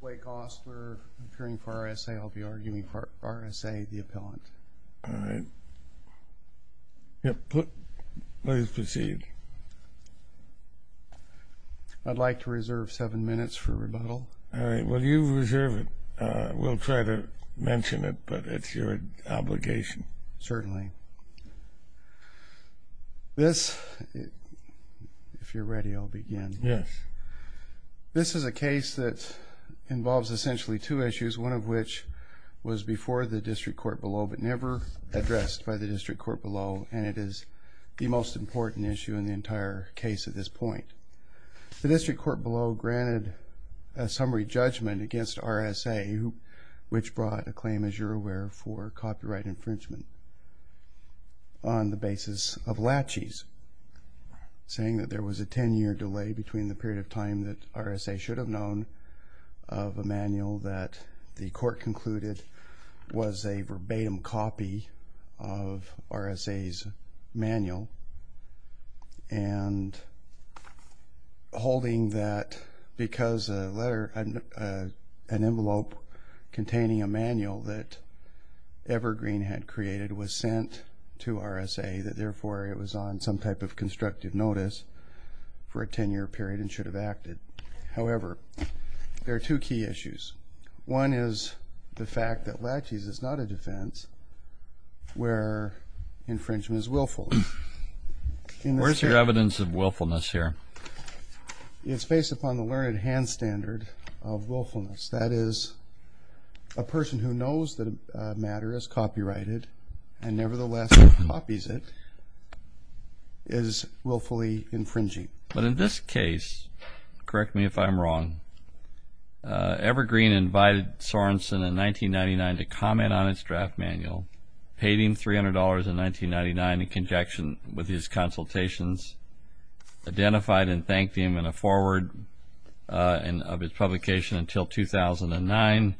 Blake Osler, appearing for RSA. I'll be arguing for RSA, the appellant. All right. Please proceed. I'd like to reserve seven minutes for rebuttal. All right. Well, you reserve it. We'll try to mention it, but it's your obligation. Certainly. This, if you're ready, I'll begin. Yes. This is a case that involves essentially two issues, one of which was before the district court below, but never addressed by the district court below, and it is the most important issue in the entire case at this point. The district court below granted a summary judgment against RSA, which brought a claim, as you're aware, for copyright infringement on the basis of laches, saying that there was a 10-year delay between the period of time that RSA should have known of a manual that the court concluded was a verbatim copy of RSA's manual, and holding that because an envelope containing a manual that Evergreen had created was sent to RSA, that therefore it was on some type of constructive notice for a 10-year period and should have acted. However, there are two key issues. One is the fact that laches is not a defense where infringement is willful. Where's your evidence of willfulness here? It's based upon the learned hand standard of willfulness. That is, a person who knows that a matter is copyrighted and nevertheless copies it is willfully infringing. But in this case, correct me if I'm wrong, Evergreen invited Sorensen in 1999 to comment on his draft manual, paid him $300 in 1999 in conjunction with his consultations, identified and thanked him in a forward of his publication until 2009.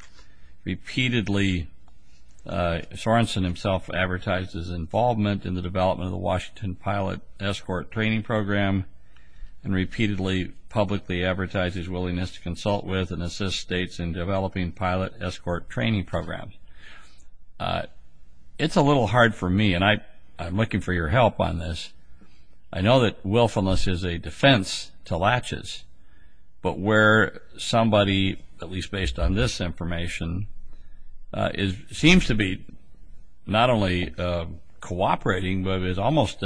Repeatedly, Sorensen himself advertised his involvement in the development of the Washington Pilot Escort Training Program and repeatedly publicly advertised his willingness to consult with and assist states in developing pilot escort training programs. It's a little hard for me, and I'm looking for your help on this. I know that willfulness is a defense to laches. But where somebody, at least based on this information, seems to be not only cooperating but is almost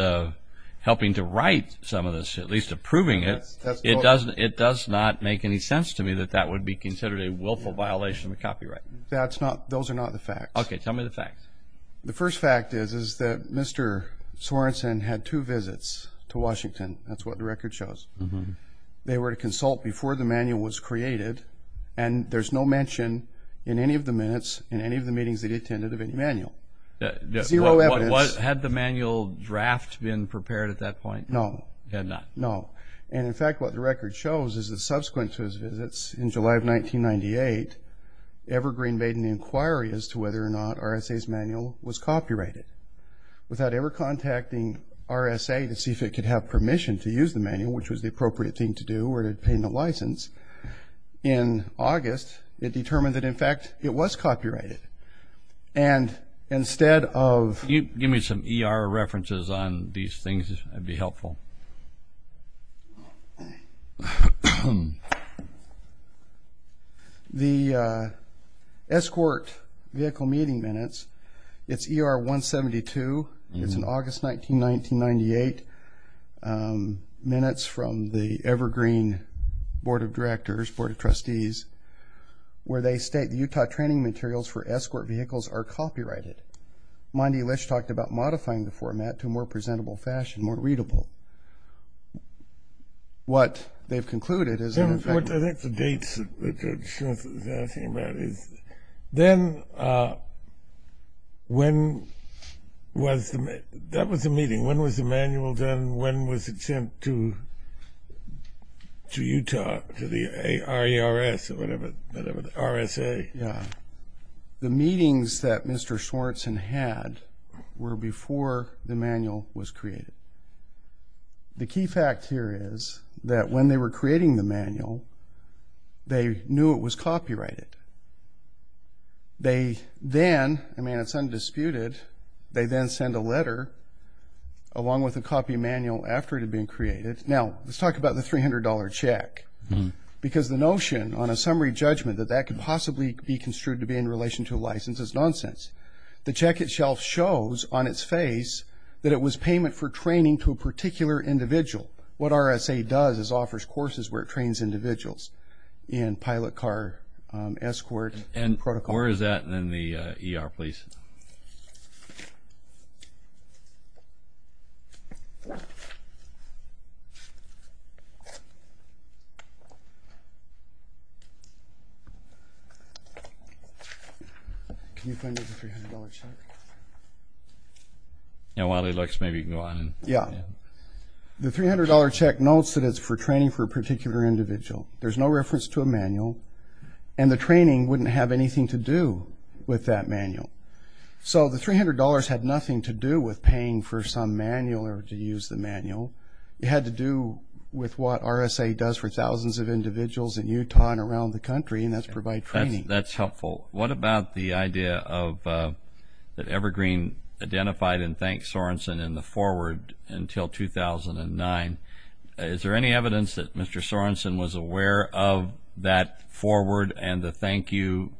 helping to write some of this, at least approving it, it does not make any sense to me that that would be considered a willful violation of copyright. Those are not the facts. Okay, tell me the facts. The first fact is that Mr. Sorensen had two visits to Washington. That's what the record shows. They were to consult before the manual was created, and there's no mention in any of the minutes in any of the meetings that he attended of any manual. Zero evidence. Had the manual draft been prepared at that point? No. It had not? No. And in fact, what the record shows is that subsequent to his visits in July of 1998, Evergreen made an inquiry as to whether or not RSA's manual was copyrighted. Without ever contacting RSA to see if it could have permission to use the manual, which was the appropriate thing to do or to obtain the license, in August it determined that, in fact, it was copyrighted. And instead of – Can you give me some ER references on these things? It would be helpful. The escort vehicle meeting minutes, it's ER 172. It's an August 1998 minutes from the Evergreen Board of Directors, Board of Trustees, where they state, the Utah training materials for escort vehicles are copyrighted. Monty Lisch talked about modifying the format to a more presentable fashion, more readable. What they've concluded is that in fact – I think the dates that Smith is asking about is, then when was the – that was the meeting. When was the manual done? When was it sent to Utah, to the ARERS or whatever, RSA? Yeah. The meetings that Mr. Schwartzen had were before the manual was created. The key fact here is that when they were creating the manual, they knew it was copyrighted. They then – I mean, it's undisputed – they then send a letter along with a copy of the manual after it had been created. Now, let's talk about the $300 check, because the notion on a summary judgment that that could possibly be construed to be in relation to a license is nonsense. The check itself shows on its face that it was payment for training to a particular individual. What RSA does is offers courses where it trains individuals in pilot car escort and protocol. Where is that in the ER, please? Can you find me the $300 check? While he looks, maybe you can go on. Yeah. The $300 check notes that it's for training for a particular individual. There's no reference to a manual, and the training wouldn't have anything to do with that manual. So the $300 had nothing to do with paying for some manual or to use the manual. It had to do with what RSA does for thousands of individuals in Utah and around the country, and that's provide training. That's helpful. What about the idea that Evergreen identified and thanked Sorensen in the forward until 2009? Is there any evidence that Mr. Sorensen was aware of that forward and the thank you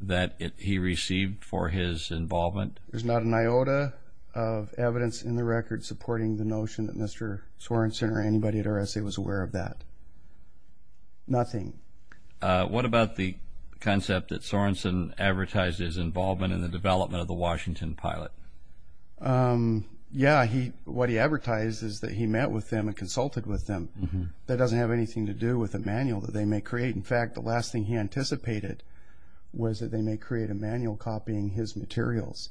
that he received for his involvement? There's not an iota of evidence in the record supporting the notion that Mr. Sorensen or anybody at RSA was aware of that. Nothing. What about the concept that Sorensen advertised his involvement in the development of the Washington pilot? Yeah. What he advertised is that he met with them and consulted with them. That doesn't have anything to do with a manual that they may create. In fact, the last thing he anticipated was that they may create a manual copying his materials.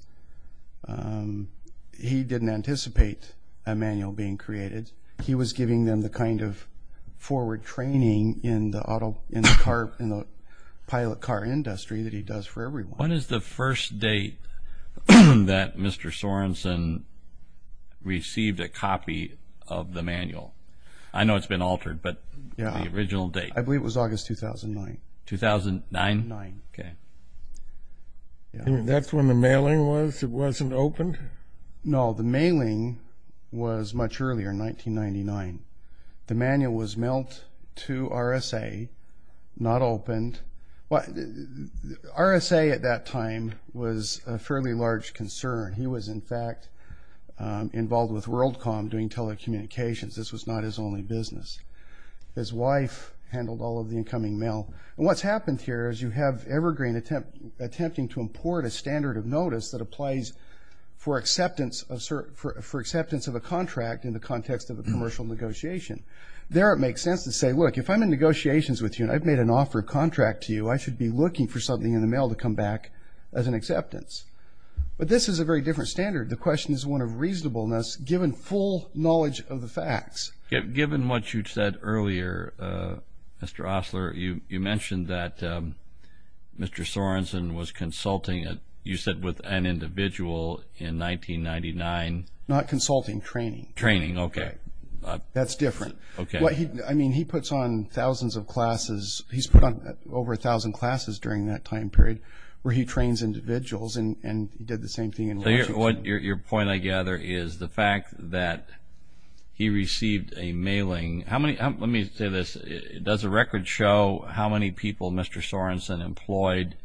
He didn't anticipate a manual being created. He was giving them the kind of forward training in the pilot car industry that he does for everyone. When is the first date that Mr. Sorensen received a copy of the manual? I know it's been altered, but the original date. I believe it was August 2009. 2009? 2009. Okay. That's when the mailing was? It wasn't opened? No, the mailing was much earlier, 1999. The manual was mailed to RSA, not opened. RSA at that time was a fairly large concern. He was, in fact, involved with WorldCom doing telecommunications. This was not his only business. His wife handled all of the incoming mail. And what's happened here is you have Evergreen attempting to import a standard of notice that applies for acceptance of a contract in the context of a commercial negotiation. There it makes sense to say, look, if I'm in negotiations with you and I've made an offer of contract to you, I should be looking for something in the mail to come back as an acceptance. But this is a very different standard. The question is one of reasonableness given full knowledge of the facts. Given what you said earlier, Mr. Osler, you mentioned that Mr. Sorensen was consulting, you said, with an individual in 1999. Not consulting, training. Training, okay. That's different. I mean, he puts on thousands of classes. He's put on over 1,000 classes during that time period where he trains individuals and did the same thing in Washington. Your point, I gather, is the fact that he received a mailing. Let me say this. Does the record show how many people Mr. Sorensen employed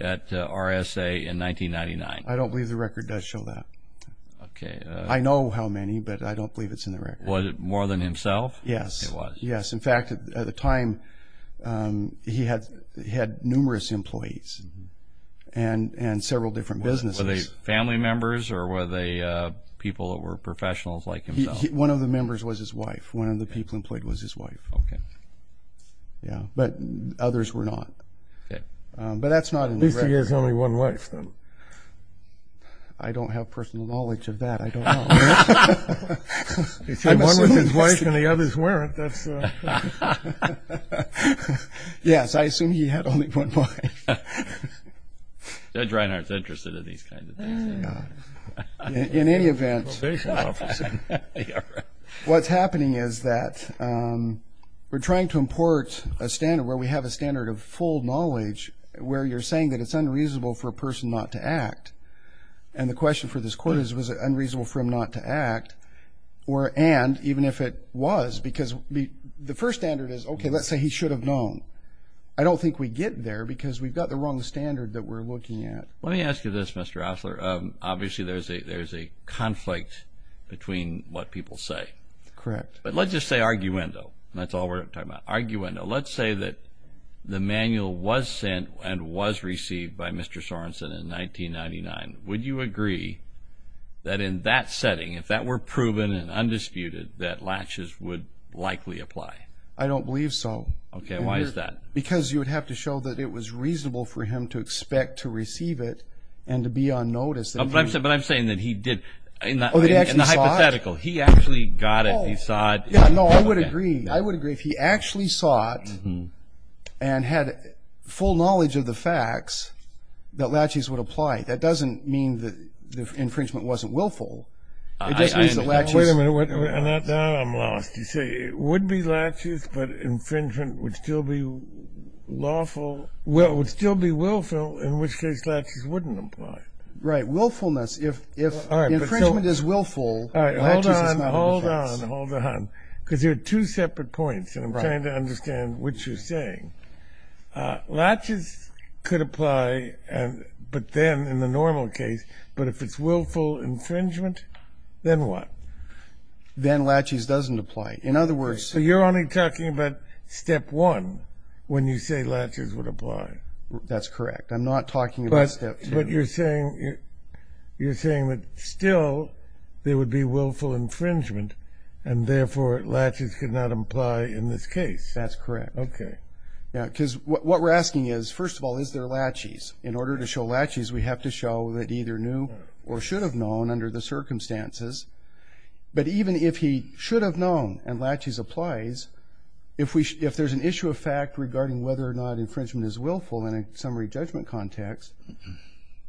at RSA in 1999? I don't believe the record does show that. Was it more than himself? Yes. It was. Yes. In fact, at the time he had numerous employees and several different businesses. Were they family members or were they people that were professionals like himself? One of the members was his wife. One of the people employed was his wife. Okay. Yeah, but others were not. Okay. But that's not in the record. At least he has only one wife, then. I don't have personal knowledge of that. I don't know. If he had one with his wife and the others weren't, that's... Yes, I assume he had only one wife. Judge Reinhardt is interested in these kinds of things. In any event, what's happening is that we're trying to import a standard where we have a standard of full knowledge where you're saying that it's unreasonable for a person not to act. And the question for this court is was it unreasonable for him not to act and even if it was because the first standard is, okay, let's say he should have known. I don't think we get there because we've got the wrong standard that we're looking at. Let me ask you this, Mr. Osler. Obviously, there's a conflict between what people say. Correct. But let's just say arguendo. That's all we're talking about, arguendo. Let's say that the manual was sent and was received by Mr. Sorensen in 1999. Would you agree that in that setting, if that were proven and undisputed, that latches would likely apply? I don't believe so. Okay, why is that? Because you would have to show that it was reasonable for him to expect to receive it and to be on notice. But I'm saying that he did... In the hypothetical, he actually got it, he saw it. No, I would agree. I would agree if he actually saw it and had full knowledge of the facts, that latches would apply. That doesn't mean that the infringement wasn't willful. It just means that latches... Wait a minute. Now I'm lost. You say it would be latches, but infringement would still be lawful. Well, it would still be willful, in which case latches wouldn't apply. Right, willfulness. If infringement is willful, latches is not a defense. All right, hold on, hold on, hold on. Because there are two separate points, and I'm trying to understand what you're saying. Latches could apply, but then, in the normal case, but if it's willful infringement, then what? Then latches doesn't apply. In other words... So you're only talking about Step 1 when you say latches would apply. That's correct. I'm not talking about Step 2. But you're saying that still there would be willful infringement and, therefore, latches could not apply in this case. That's correct. Okay. Yeah, because what we're asking is, first of all, is there latches? In order to show latches, we have to show that either knew or should have known under the circumstances. But even if he should have known and latches applies, if there's an issue of fact regarding whether or not infringement is willful in a summary judgment context,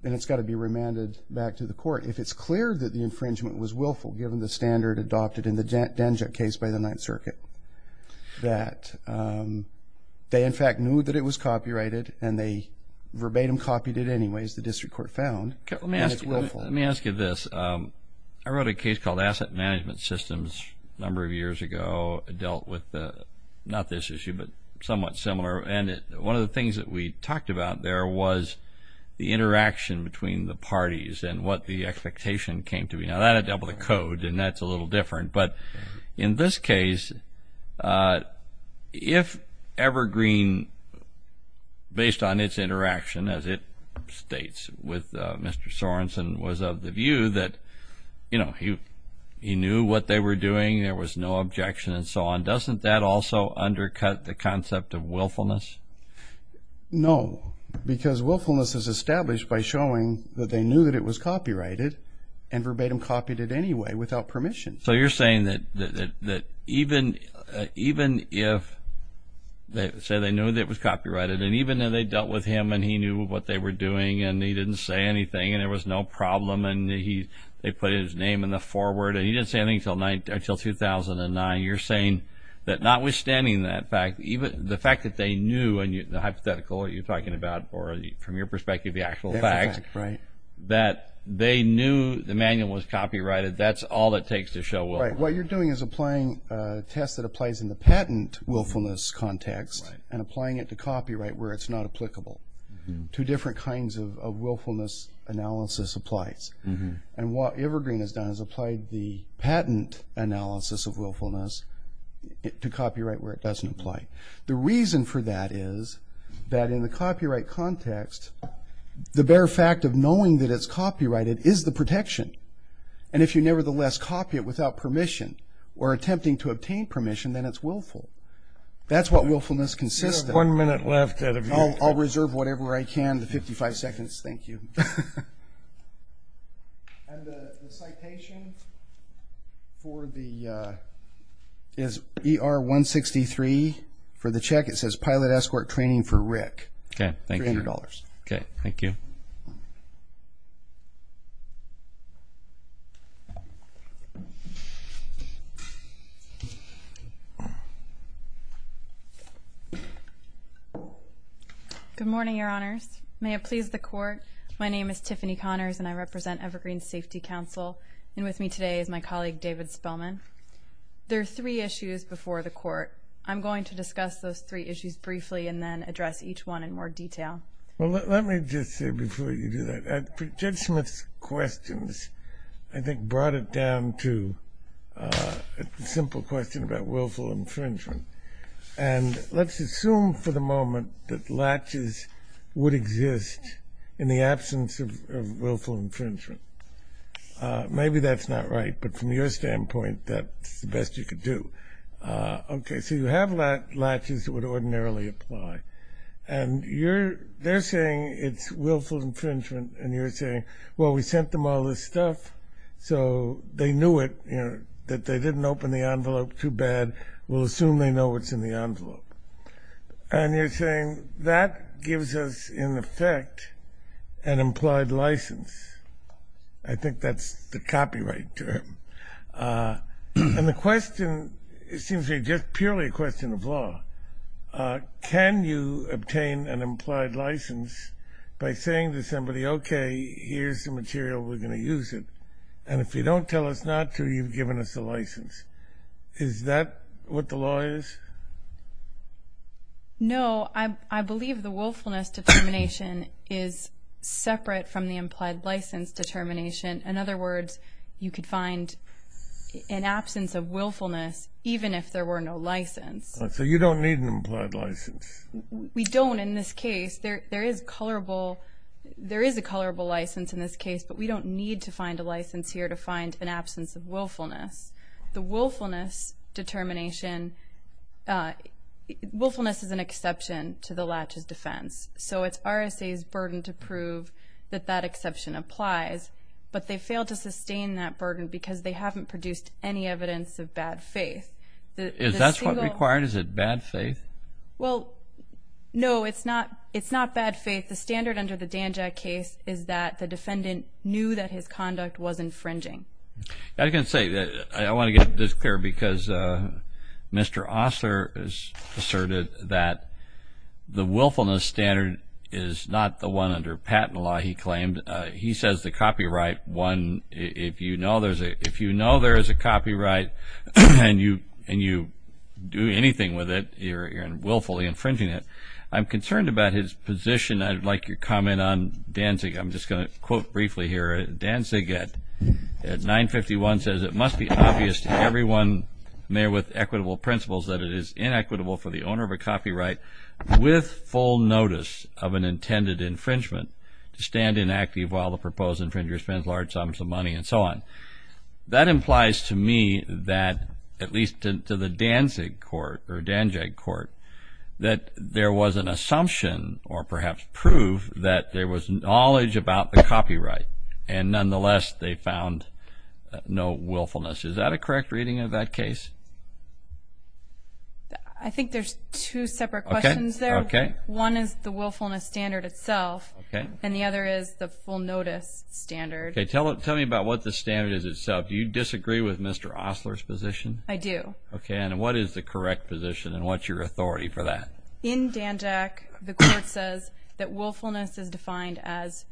then it's got to be remanded back to the court. If it's clear that the infringement was willful, given the standard adopted in the Danjuk case by the Ninth Circuit, that they, in fact, knew that it was copyrighted and they verbatim copied it anyways, the district court found, then it's willful. Let me ask you this. I wrote a case called Asset Management Systems a number of years ago. It dealt with, not this issue, but somewhat similar. And one of the things that we talked about there was the interaction between the parties and what the expectation came to be. Now, that I dealt with a code, and that's a little different. But in this case, if Evergreen, based on its interaction, as it states, with Mr. Sorensen was of the view that he knew what they were doing, there was no objection and so on, doesn't that also undercut the concept of willfulness? No, because willfulness is established by showing that they knew that it was copyrighted and verbatim copied it anyway without permission. So you're saying that even if they say they knew that it was copyrighted and even though they dealt with him and he knew what they were doing and he didn't say anything and there was no problem and they put his name in the foreword and he didn't say anything until 2009, you're saying that notwithstanding that fact, the fact that they knew, and the hypothetical that you're talking about, or from your perspective, the actual fact that they knew the manual was copyrighted, that's all it takes to show willfulness. What you're doing is applying a test that applies in the patent willfulness context and applying it to copyright where it's not applicable. Two different kinds of willfulness analysis applies. And what Evergreen has done is applied the patent analysis of willfulness to copyright where it doesn't apply. The reason for that is that in the copyright context, the bare fact of knowing that it's copyrighted is the protection. And if you nevertheless copy it without permission or attempting to obtain permission, then it's willful. That's what willfulness consists of. We have one minute left. I'll reserve whatever I can, the 55 seconds. Thank you. And the citation is ER-163. For the check, it says, Pilot Escort Training for Rick, $300. Okay, thank you. Good morning, Your Honors. May it please the Court, my name is Tiffany Connors, and I represent Evergreen Safety Council. And with me today is my colleague David Spillman. There are three issues before the Court. I'm going to discuss those three issues briefly and then address each one in more detail. Well, let me just say before you do that, Judge Smith's questions I think brought it down to a simple question about willful infringement. And let's assume for the moment that latches would exist in the absence of willful infringement. Maybe that's not right, but from your standpoint, that's the best you could do. Okay, so you have latches that would ordinarily apply. And they're saying it's willful infringement, and you're saying, well, we sent them all this stuff, so they knew it, that they didn't open the envelope too bad. We'll assume they know what's in the envelope. And you're saying that gives us, in effect, an implied license. I think that's the copyright term. And the question seems to be just purely a question of law. Can you obtain an implied license by saying to somebody, okay, here's the material, we're going to use it, and if you don't tell us not to, you've given us a license. Is that what the law is? No. I believe the willfulness determination is separate from the implied license determination. In other words, you could find an absence of willfulness even if there were no license. So you don't need an implied license. We don't in this case. There is a colorable license in this case, but we don't need to find a license here to find an absence of willfulness. The willfulness determination, willfulness is an exception to the latches defense. So it's RSA's burden to prove that that exception applies. But they failed to sustain that burden because they haven't produced any evidence of bad faith. Is that what's required? Is it bad faith? Well, no, it's not bad faith. The standard under the Danjack case is that the defendant knew that his conduct was infringing. I can say that I want to get this clear because Mr. Osler has asserted that the willfulness standard is not the one under patent law, he claimed. He says the copyright one, if you know there is a copyright and you do anything with it, you're willfully infringing it. I'm concerned about his position. I'd like your comment on Danzig. I'm just going to quote briefly here. Danzig at 951 says, it must be obvious to everyone there with equitable principles that it is inequitable for the owner of a copyright with full notice of an intended infringement to stand inactive while the proposed infringer spends large sums of money and so on. That implies to me that, at least to the Danzig court, or Danjack court, that there was an assumption or perhaps proof that there was knowledge about the copyright and nonetheless they found no willfulness. Is that a correct reading of that case? I think there's two separate questions there. One is the willfulness standard itself and the other is the full notice standard. Tell me about what the standard is itself. Do you disagree with Mr. Osler's position? I do. What is the correct position and what's your authority for that? In Danjack, the court says that willfulness is defined as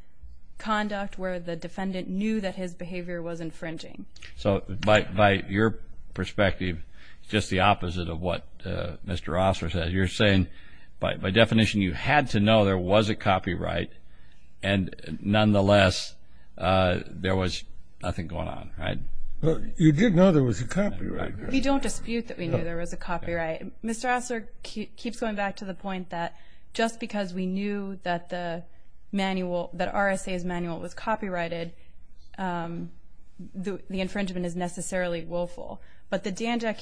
conduct where the defendant knew that his behavior was infringing. So by your perspective, it's just the opposite of what Mr. Osler said. You're saying by definition you had to know there was a copyright and nonetheless there was nothing going on, right? You did know there was a copyright. We don't dispute that we knew there was a copyright. Mr. Osler keeps going back to the point that just because we knew that the manual, that RSA's manual was copyrighted, the infringement is necessarily willful. But the Danjack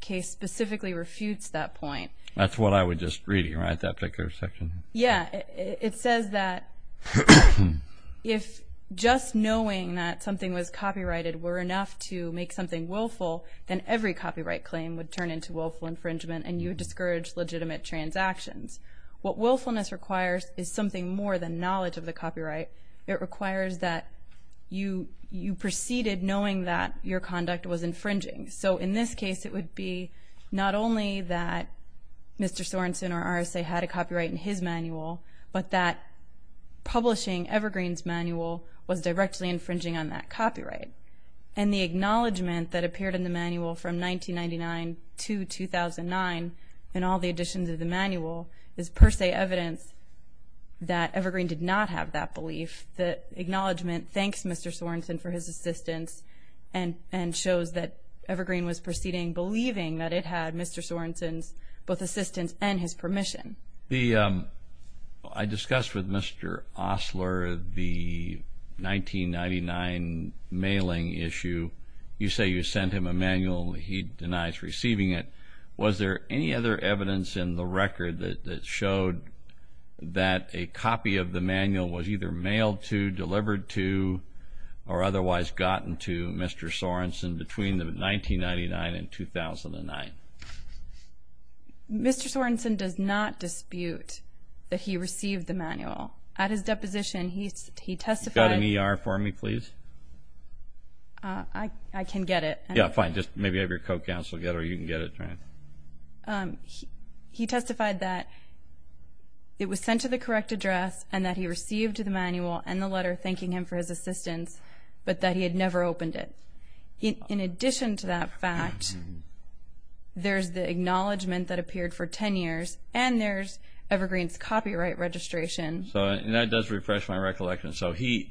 case specifically refutes that point. That's what I was just reading, right, that particular section? Yeah. It says that if just knowing that something was copyrighted were enough to make something willful, then every copyright claim would turn into willful infringement and you would discourage legitimate transactions. What willfulness requires is something more than knowledge of the copyright. It requires that you proceeded knowing that your conduct was infringing. So in this case, it would be not only that Mr. Sorensen or RSA had a copyright in his manual, but that publishing Evergreen's manual was directly infringing on that copyright. And the acknowledgment that appeared in the manual from 1999 to 2009 in all the editions of the manual is per se evidence that Evergreen did not have that belief, that acknowledgment thanks Mr. Sorensen for his assistance and shows that Evergreen was proceeding believing that it had Mr. Sorensen's both assistance and his permission. I discussed with Mr. Osler the 1999 mailing issue. You say you sent him a manual. He denies receiving it. Was there any other evidence in the record that showed that a copy of the manual was either mailed to, delivered to, or otherwise gotten to Mr. Sorensen between 1999 and 2009? Mr. Sorensen does not dispute that he received the manual. At his deposition, he testified. Do you have an ER for me, please? I can get it. Yeah, fine. Just maybe have your co-counsel get it or you can get it. He testified that it was sent to the correct address and that he received the manual and the letter thanking him for his assistance, but that he had never opened it. In addition to that fact, there's the acknowledgment that appeared for 10 years and there's Evergreen's copyright registration. And that does refresh my recollection. So it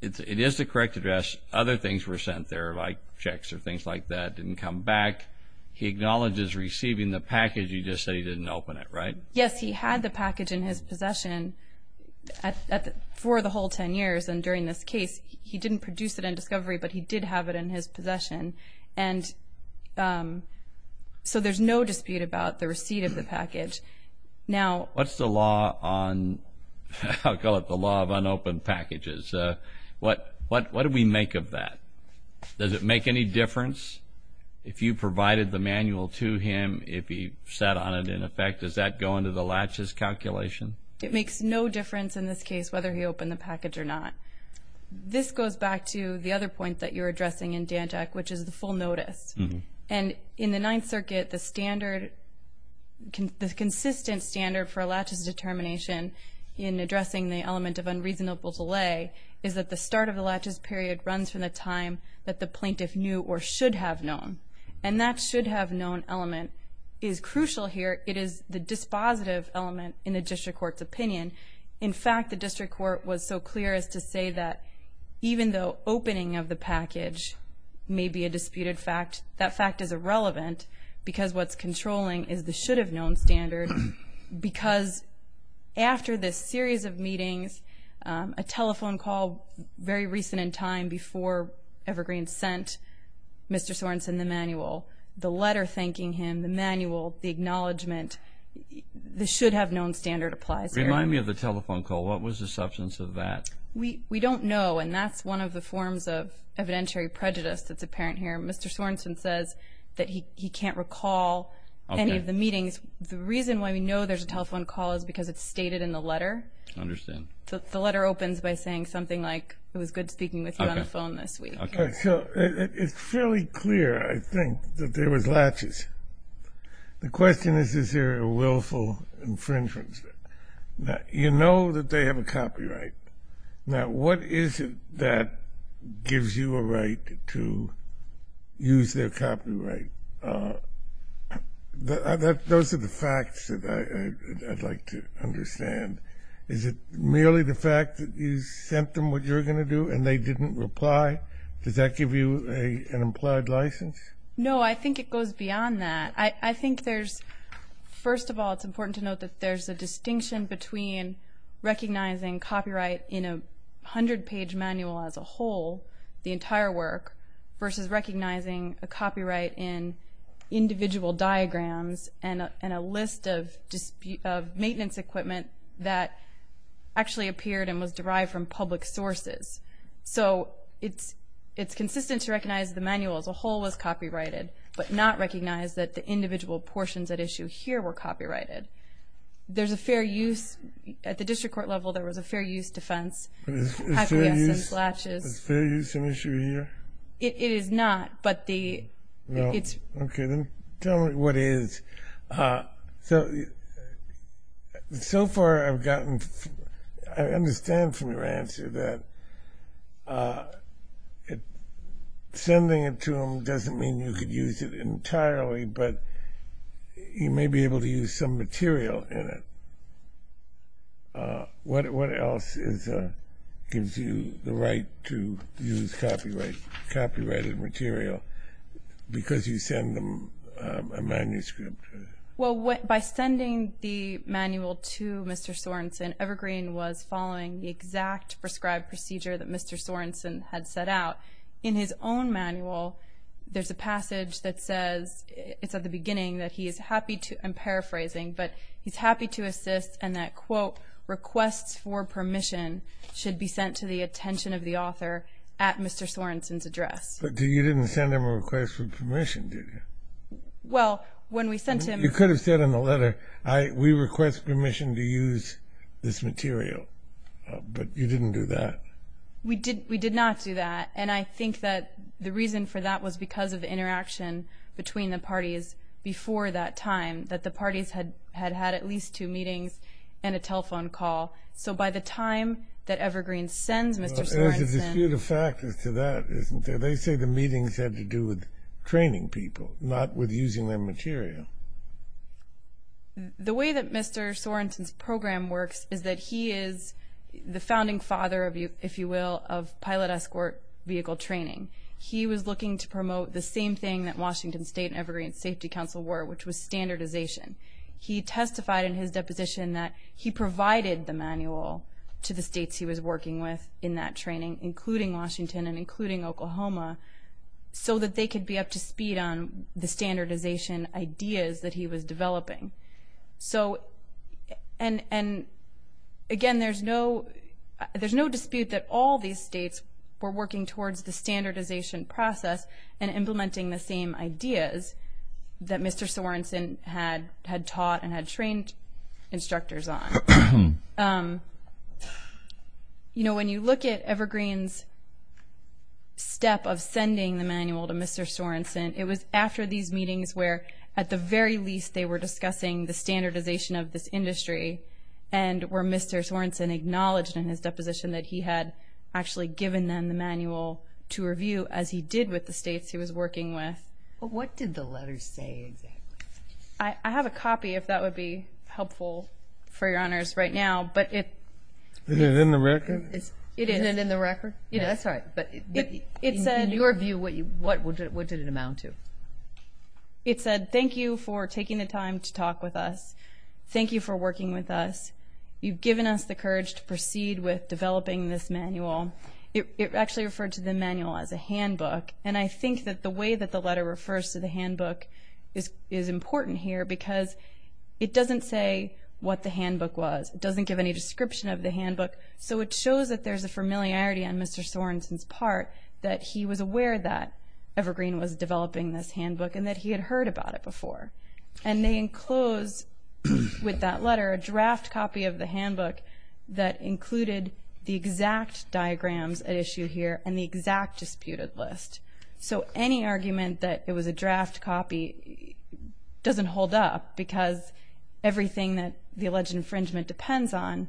is the correct address. Other things were sent there like checks or things like that didn't come back. He acknowledges receiving the package. You just said he didn't open it, right? Yes, he had the package in his possession for the whole 10 years. And during this case, he didn't produce it in discovery, but he did have it in his possession. And so there's no dispute about the receipt of the package. What's the law on, I'll call it the law of unopened packages? What do we make of that? Does it make any difference if you provided the manual to him, if he sat on it in effect? Does that go into the latches calculation? It makes no difference in this case whether he opened the package or not. This goes back to the other point that you're addressing in DANTAC, which is the full notice. And in the Ninth Circuit, the standard, the consistent standard for a latches determination in addressing the element of unreasonable delay is that the start of the latches period runs from the time that the plaintiff knew or should have known. And that should have known element is crucial here. It is the dispositive element in the district court's opinion. In fact, the district court was so clear as to say that even though opening of the package may be a disputed fact, that fact is irrelevant because what's controlling is the should have known standard because after this series of meetings, a telephone call very recent in time before Evergreen sent Mr. Sorensen the manual, the letter thanking him, the manual, the acknowledgment, the should have known standard applies here. Remind me of the telephone call. What was the substance of that? We don't know, and that's one of the forms of evidentiary prejudice that's apparent here. Mr. Sorensen says that he can't recall any of the meetings. The reason why we know there's a telephone call is because it's stated in the letter. I understand. The letter opens by saying something like, it was good speaking with you on the phone this week. It's fairly clear, I think, that there was latches. The question is, is there a willful infringement? You know that they have a copyright. Now, what is it that gives you a right to use their copyright? Those are the facts that I'd like to understand. Is it merely the fact that you sent them what you're going to do and they didn't reply? Does that give you an implied license? No, I think it goes beyond that. I think there's, first of all, it's important to note that there's a distinction between recognizing copyright in a 100-page manual as a whole, the entire work, versus recognizing a copyright in individual diagrams and a list of maintenance equipment that actually appeared and was derived from public sources. So it's consistent to recognize the manual as a whole was copyrighted, but not recognize that the individual portions at issue here were copyrighted. There's a fair use. At the district court level, there was a fair use defense. Is fair use an issue here? It is not. No. Okay, then tell me what is. So far I've gotten, I understand from your answer that sending it to them doesn't mean you could use it entirely, but you may be able to use some material in it. What else gives you the right to use copyrighted material because you send them a manuscript? Well, by sending the manual to Mr. Sorenson, Evergreen was following the exact prescribed procedure that Mr. Sorenson had set out. In his own manual, there's a passage that says, it's at the beginning, that he is happy to, I'm paraphrasing, but he's happy to assist and that, quote, requests for permission should be sent to the attention of the author at Mr. Sorenson's address. But you didn't send him a request for permission, did you? Well, when we sent him. You could have said in the letter, we request permission to use this material, but you didn't do that. We did not do that, and I think that the reason for that was because of the interaction between the parties before that time, that the parties had had at least two meetings and a telephone call. So by the time that Evergreen sends Mr. Sorenson... There's a dispute of factors to that, isn't there? They say the meetings had to do with training people, not with using their material. The way that Mr. Sorenson's program works is that he is the founding father, if you will, of pilot escort vehicle training. He was looking to promote the same thing that Washington State and Evergreen Safety Council were, which was standardization. He testified in his deposition that he provided the manual to the states he was working with in that training, including Washington and including Oklahoma, so that they could be up to speed on the standardization ideas that he was developing. So, and again, there's no dispute that all these states were working towards the standardization process and implementing the same ideas that Mr. Sorenson had taught and had trained instructors on. You know, when you look at Evergreen's step of sending the manual to Mr. Sorenson, it was after these meetings where, at the very least, they were discussing the standardization of this industry and where Mr. Sorenson acknowledged in his deposition that he had actually given them the manual to review, as he did with the states he was working with. But what did the letters say exactly? I have a copy, if that would be helpful for your honors right now, but it... Isn't it in the record? Isn't it in the record? Yeah, that's right, but in your view, what did it amount to? It said, thank you for taking the time to talk with us. Thank you for working with us. You've given us the courage to proceed with developing this manual. It actually referred to the manual as a handbook, and I think that the way that the letter refers to the handbook is important here because it doesn't say what the handbook was. It doesn't give any description of the handbook, so it shows that there's a familiarity on Mr. Sorenson's part, that he was aware that Evergreen was developing this handbook and that he had heard about it before. And they enclosed with that letter a draft copy of the handbook that included the exact diagrams at issue here and the exact disputed list. So any argument that it was a draft copy doesn't hold up because everything that the alleged infringement depends on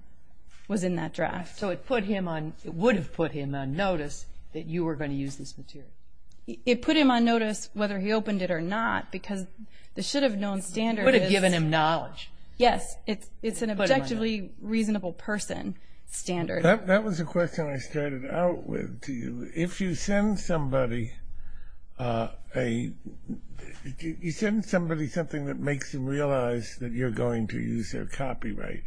was in that draft. So it would have put him on notice that you were going to use this material. It put him on notice whether he opened it or not because the should-have-known standard is... It would have given him knowledge. Yes, it's an objectively reasonable person standard. That was a question I started out with. If you send somebody something that makes them realize that you're going to use their copyright,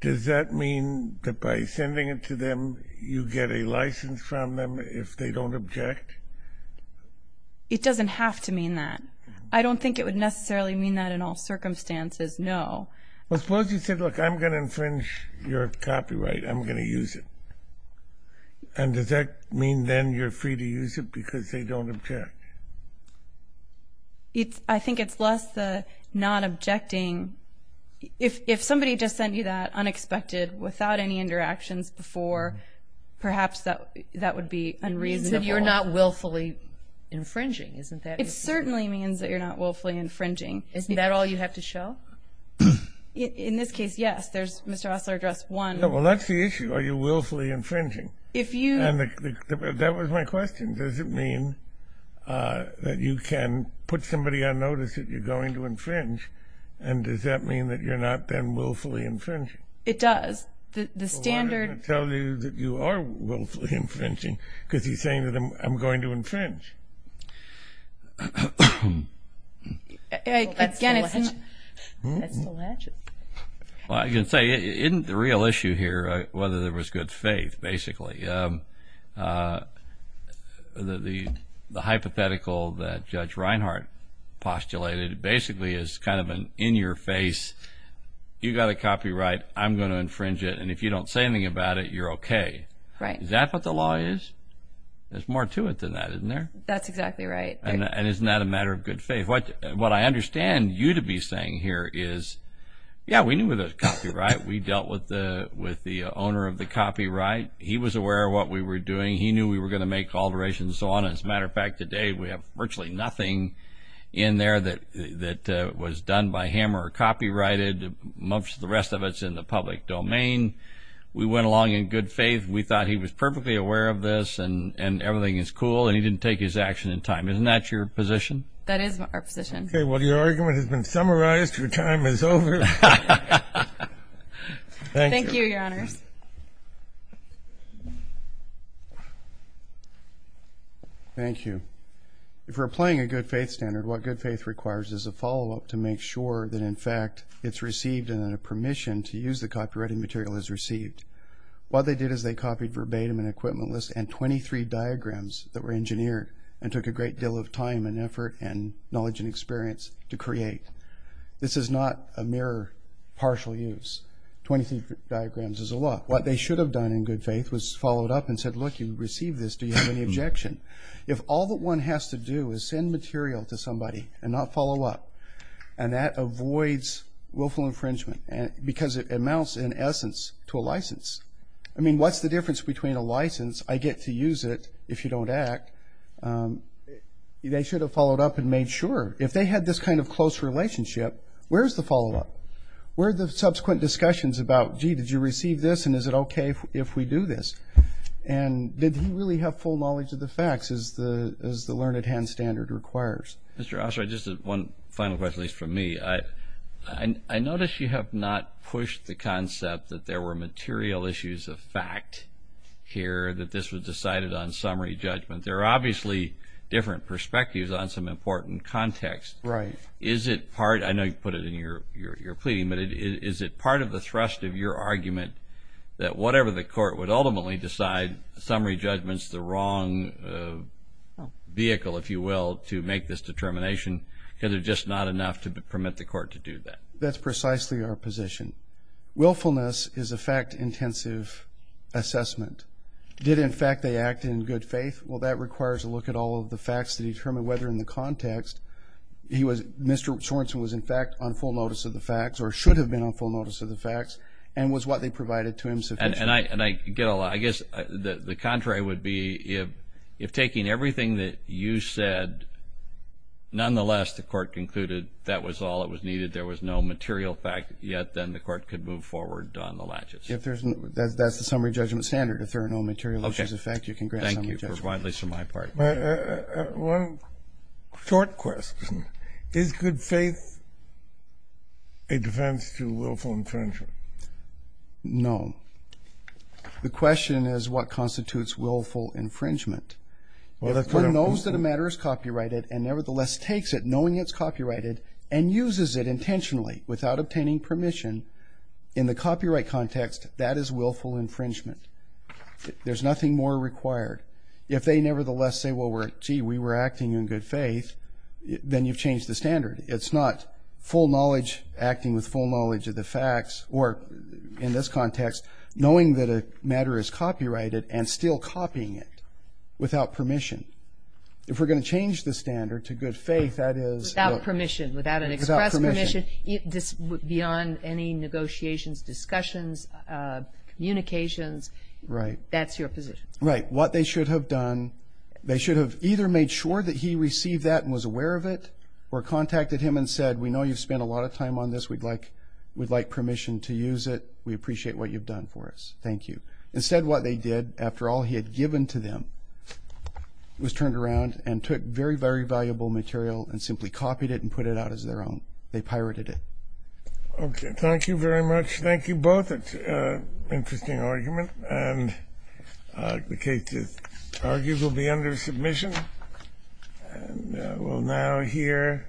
does that mean that by sending it to them you get a license from them if they don't object? It doesn't have to mean that. I don't think it would necessarily mean that in all circumstances, no. Well, suppose you said, look, I'm going to infringe your copyright. I'm going to use it. And does that mean then you're free to use it because they don't object? I think it's less the not objecting. If somebody just sent you that unexpected without any interactions before, perhaps that would be unreasonable. You said you're not willfully infringing, isn't that? It certainly means that you're not willfully infringing. Isn't that all you have to show? In this case, yes. There's Mr. Osler address 1. Well, that's the issue. Are you willfully infringing? If you... That was my question. Does it mean that you can put somebody on notice that you're going to infringe, and does that mean that you're not then willfully infringing? It does. The standard... Is he saying that I'm going to infringe? Again, it's not... Well, I can say, isn't the real issue here whether there was good faith, basically? The hypothetical that Judge Reinhart postulated basically is kind of an in-your-face, you've got a copyright, I'm going to infringe it, and if you don't say anything about it, you're okay. Right. Is that what the law is? There's more to it than that, isn't there? That's exactly right. And isn't that a matter of good faith? What I understand you to be saying here is, yeah, we knew there was copyright. We dealt with the owner of the copyright. He was aware of what we were doing. He knew we were going to make alterations and so on. As a matter of fact, today we have virtually nothing in there that was done by him or copyrighted. The rest of it's in the public domain. We went along in good faith. We thought he was perfectly aware of this and everything is cool, and he didn't take his action in time. Isn't that your position? That is our position. Okay. Well, your argument has been summarized. Your time is over. Thank you. Thank you, Your Honors. Thank you. If we're playing a good faith standard, what good faith requires is a follow-up to make sure that, in fact, it's received and a permission to use the copyrighted material is received. What they did is they copied verbatim an equipment list and 23 diagrams that were engineered and took a great deal of time and effort and knowledge and experience to create. This is not a mere partial use. Twenty-three diagrams is a lot. What they should have done in good faith was follow it up and said, look, you received this. Do you have any objection? If all that one has to do is send material to somebody and not follow up, and that avoids willful infringement because it amounts, in essence, to a license. I mean, what's the difference between a license? I get to use it if you don't act. They should have followed up and made sure. If they had this kind of close relationship, where's the follow-up? Where are the subsequent discussions about, gee, did you receive this, and is it okay if we do this? And did he really have full knowledge of the facts, as the learned hand standard requires? Mr. Osler, just one final question, at least from me. I notice you have not pushed the concept that there were material issues of fact here, that this was decided on summary judgment. There are obviously different perspectives on some important context. Right. Is it part of the thrust of your argument that whatever the court would ultimately decide, summary judgment is the wrong vehicle, if you will, to make this determination because there's just not enough to permit the court to do that? That's precisely our position. Willfulness is a fact-intensive assessment. Did, in fact, they act in good faith? Well, that requires a look at all of the facts to determine whether, in the context, Mr. Sorenson was, in fact, on full notice of the facts or should have been on full notice of the facts and was what they provided to him sufficiently. And I get a lot. I guess the contrary would be if taking everything that you said, nonetheless the court concluded that was all that was needed, there was no material fact, yet then the court could move forward on the latches. That's the summary judgment standard. If there are no material issues of fact, you can grant summary judgment. Thank you, at least from my part. One short question. Is good faith a defense to willful infringement? No. The question is what constitutes willful infringement. If one knows that a matter is copyrighted and nevertheless takes it knowing it's copyrighted and uses it intentionally without obtaining permission, in the copyright context, that is willful infringement. There's nothing more required. If they nevertheless say, well, gee, we were acting in good faith, then you've changed the standard. It's not full knowledge, acting with full knowledge of the facts, or in this context, knowing that a matter is copyrighted and still copying it without permission. If we're going to change the standard to good faith, that is without permission, without an express permission, beyond any negotiations, discussions, communications, that's your position. Right. What they should have done, they should have either made sure that he received that and was aware of it or contacted him and said, we know you've spent a lot of time on this. We'd like permission to use it. We appreciate what you've done for us. Thank you. Instead, what they did, after all he had given to them, was turned around and took very, very valuable material and simply copied it and put it out as their own. They pirated it. Okay. Thank you very much. Thank you both. It's an interesting argument. And the case is argued will be under submission. And we'll now hear.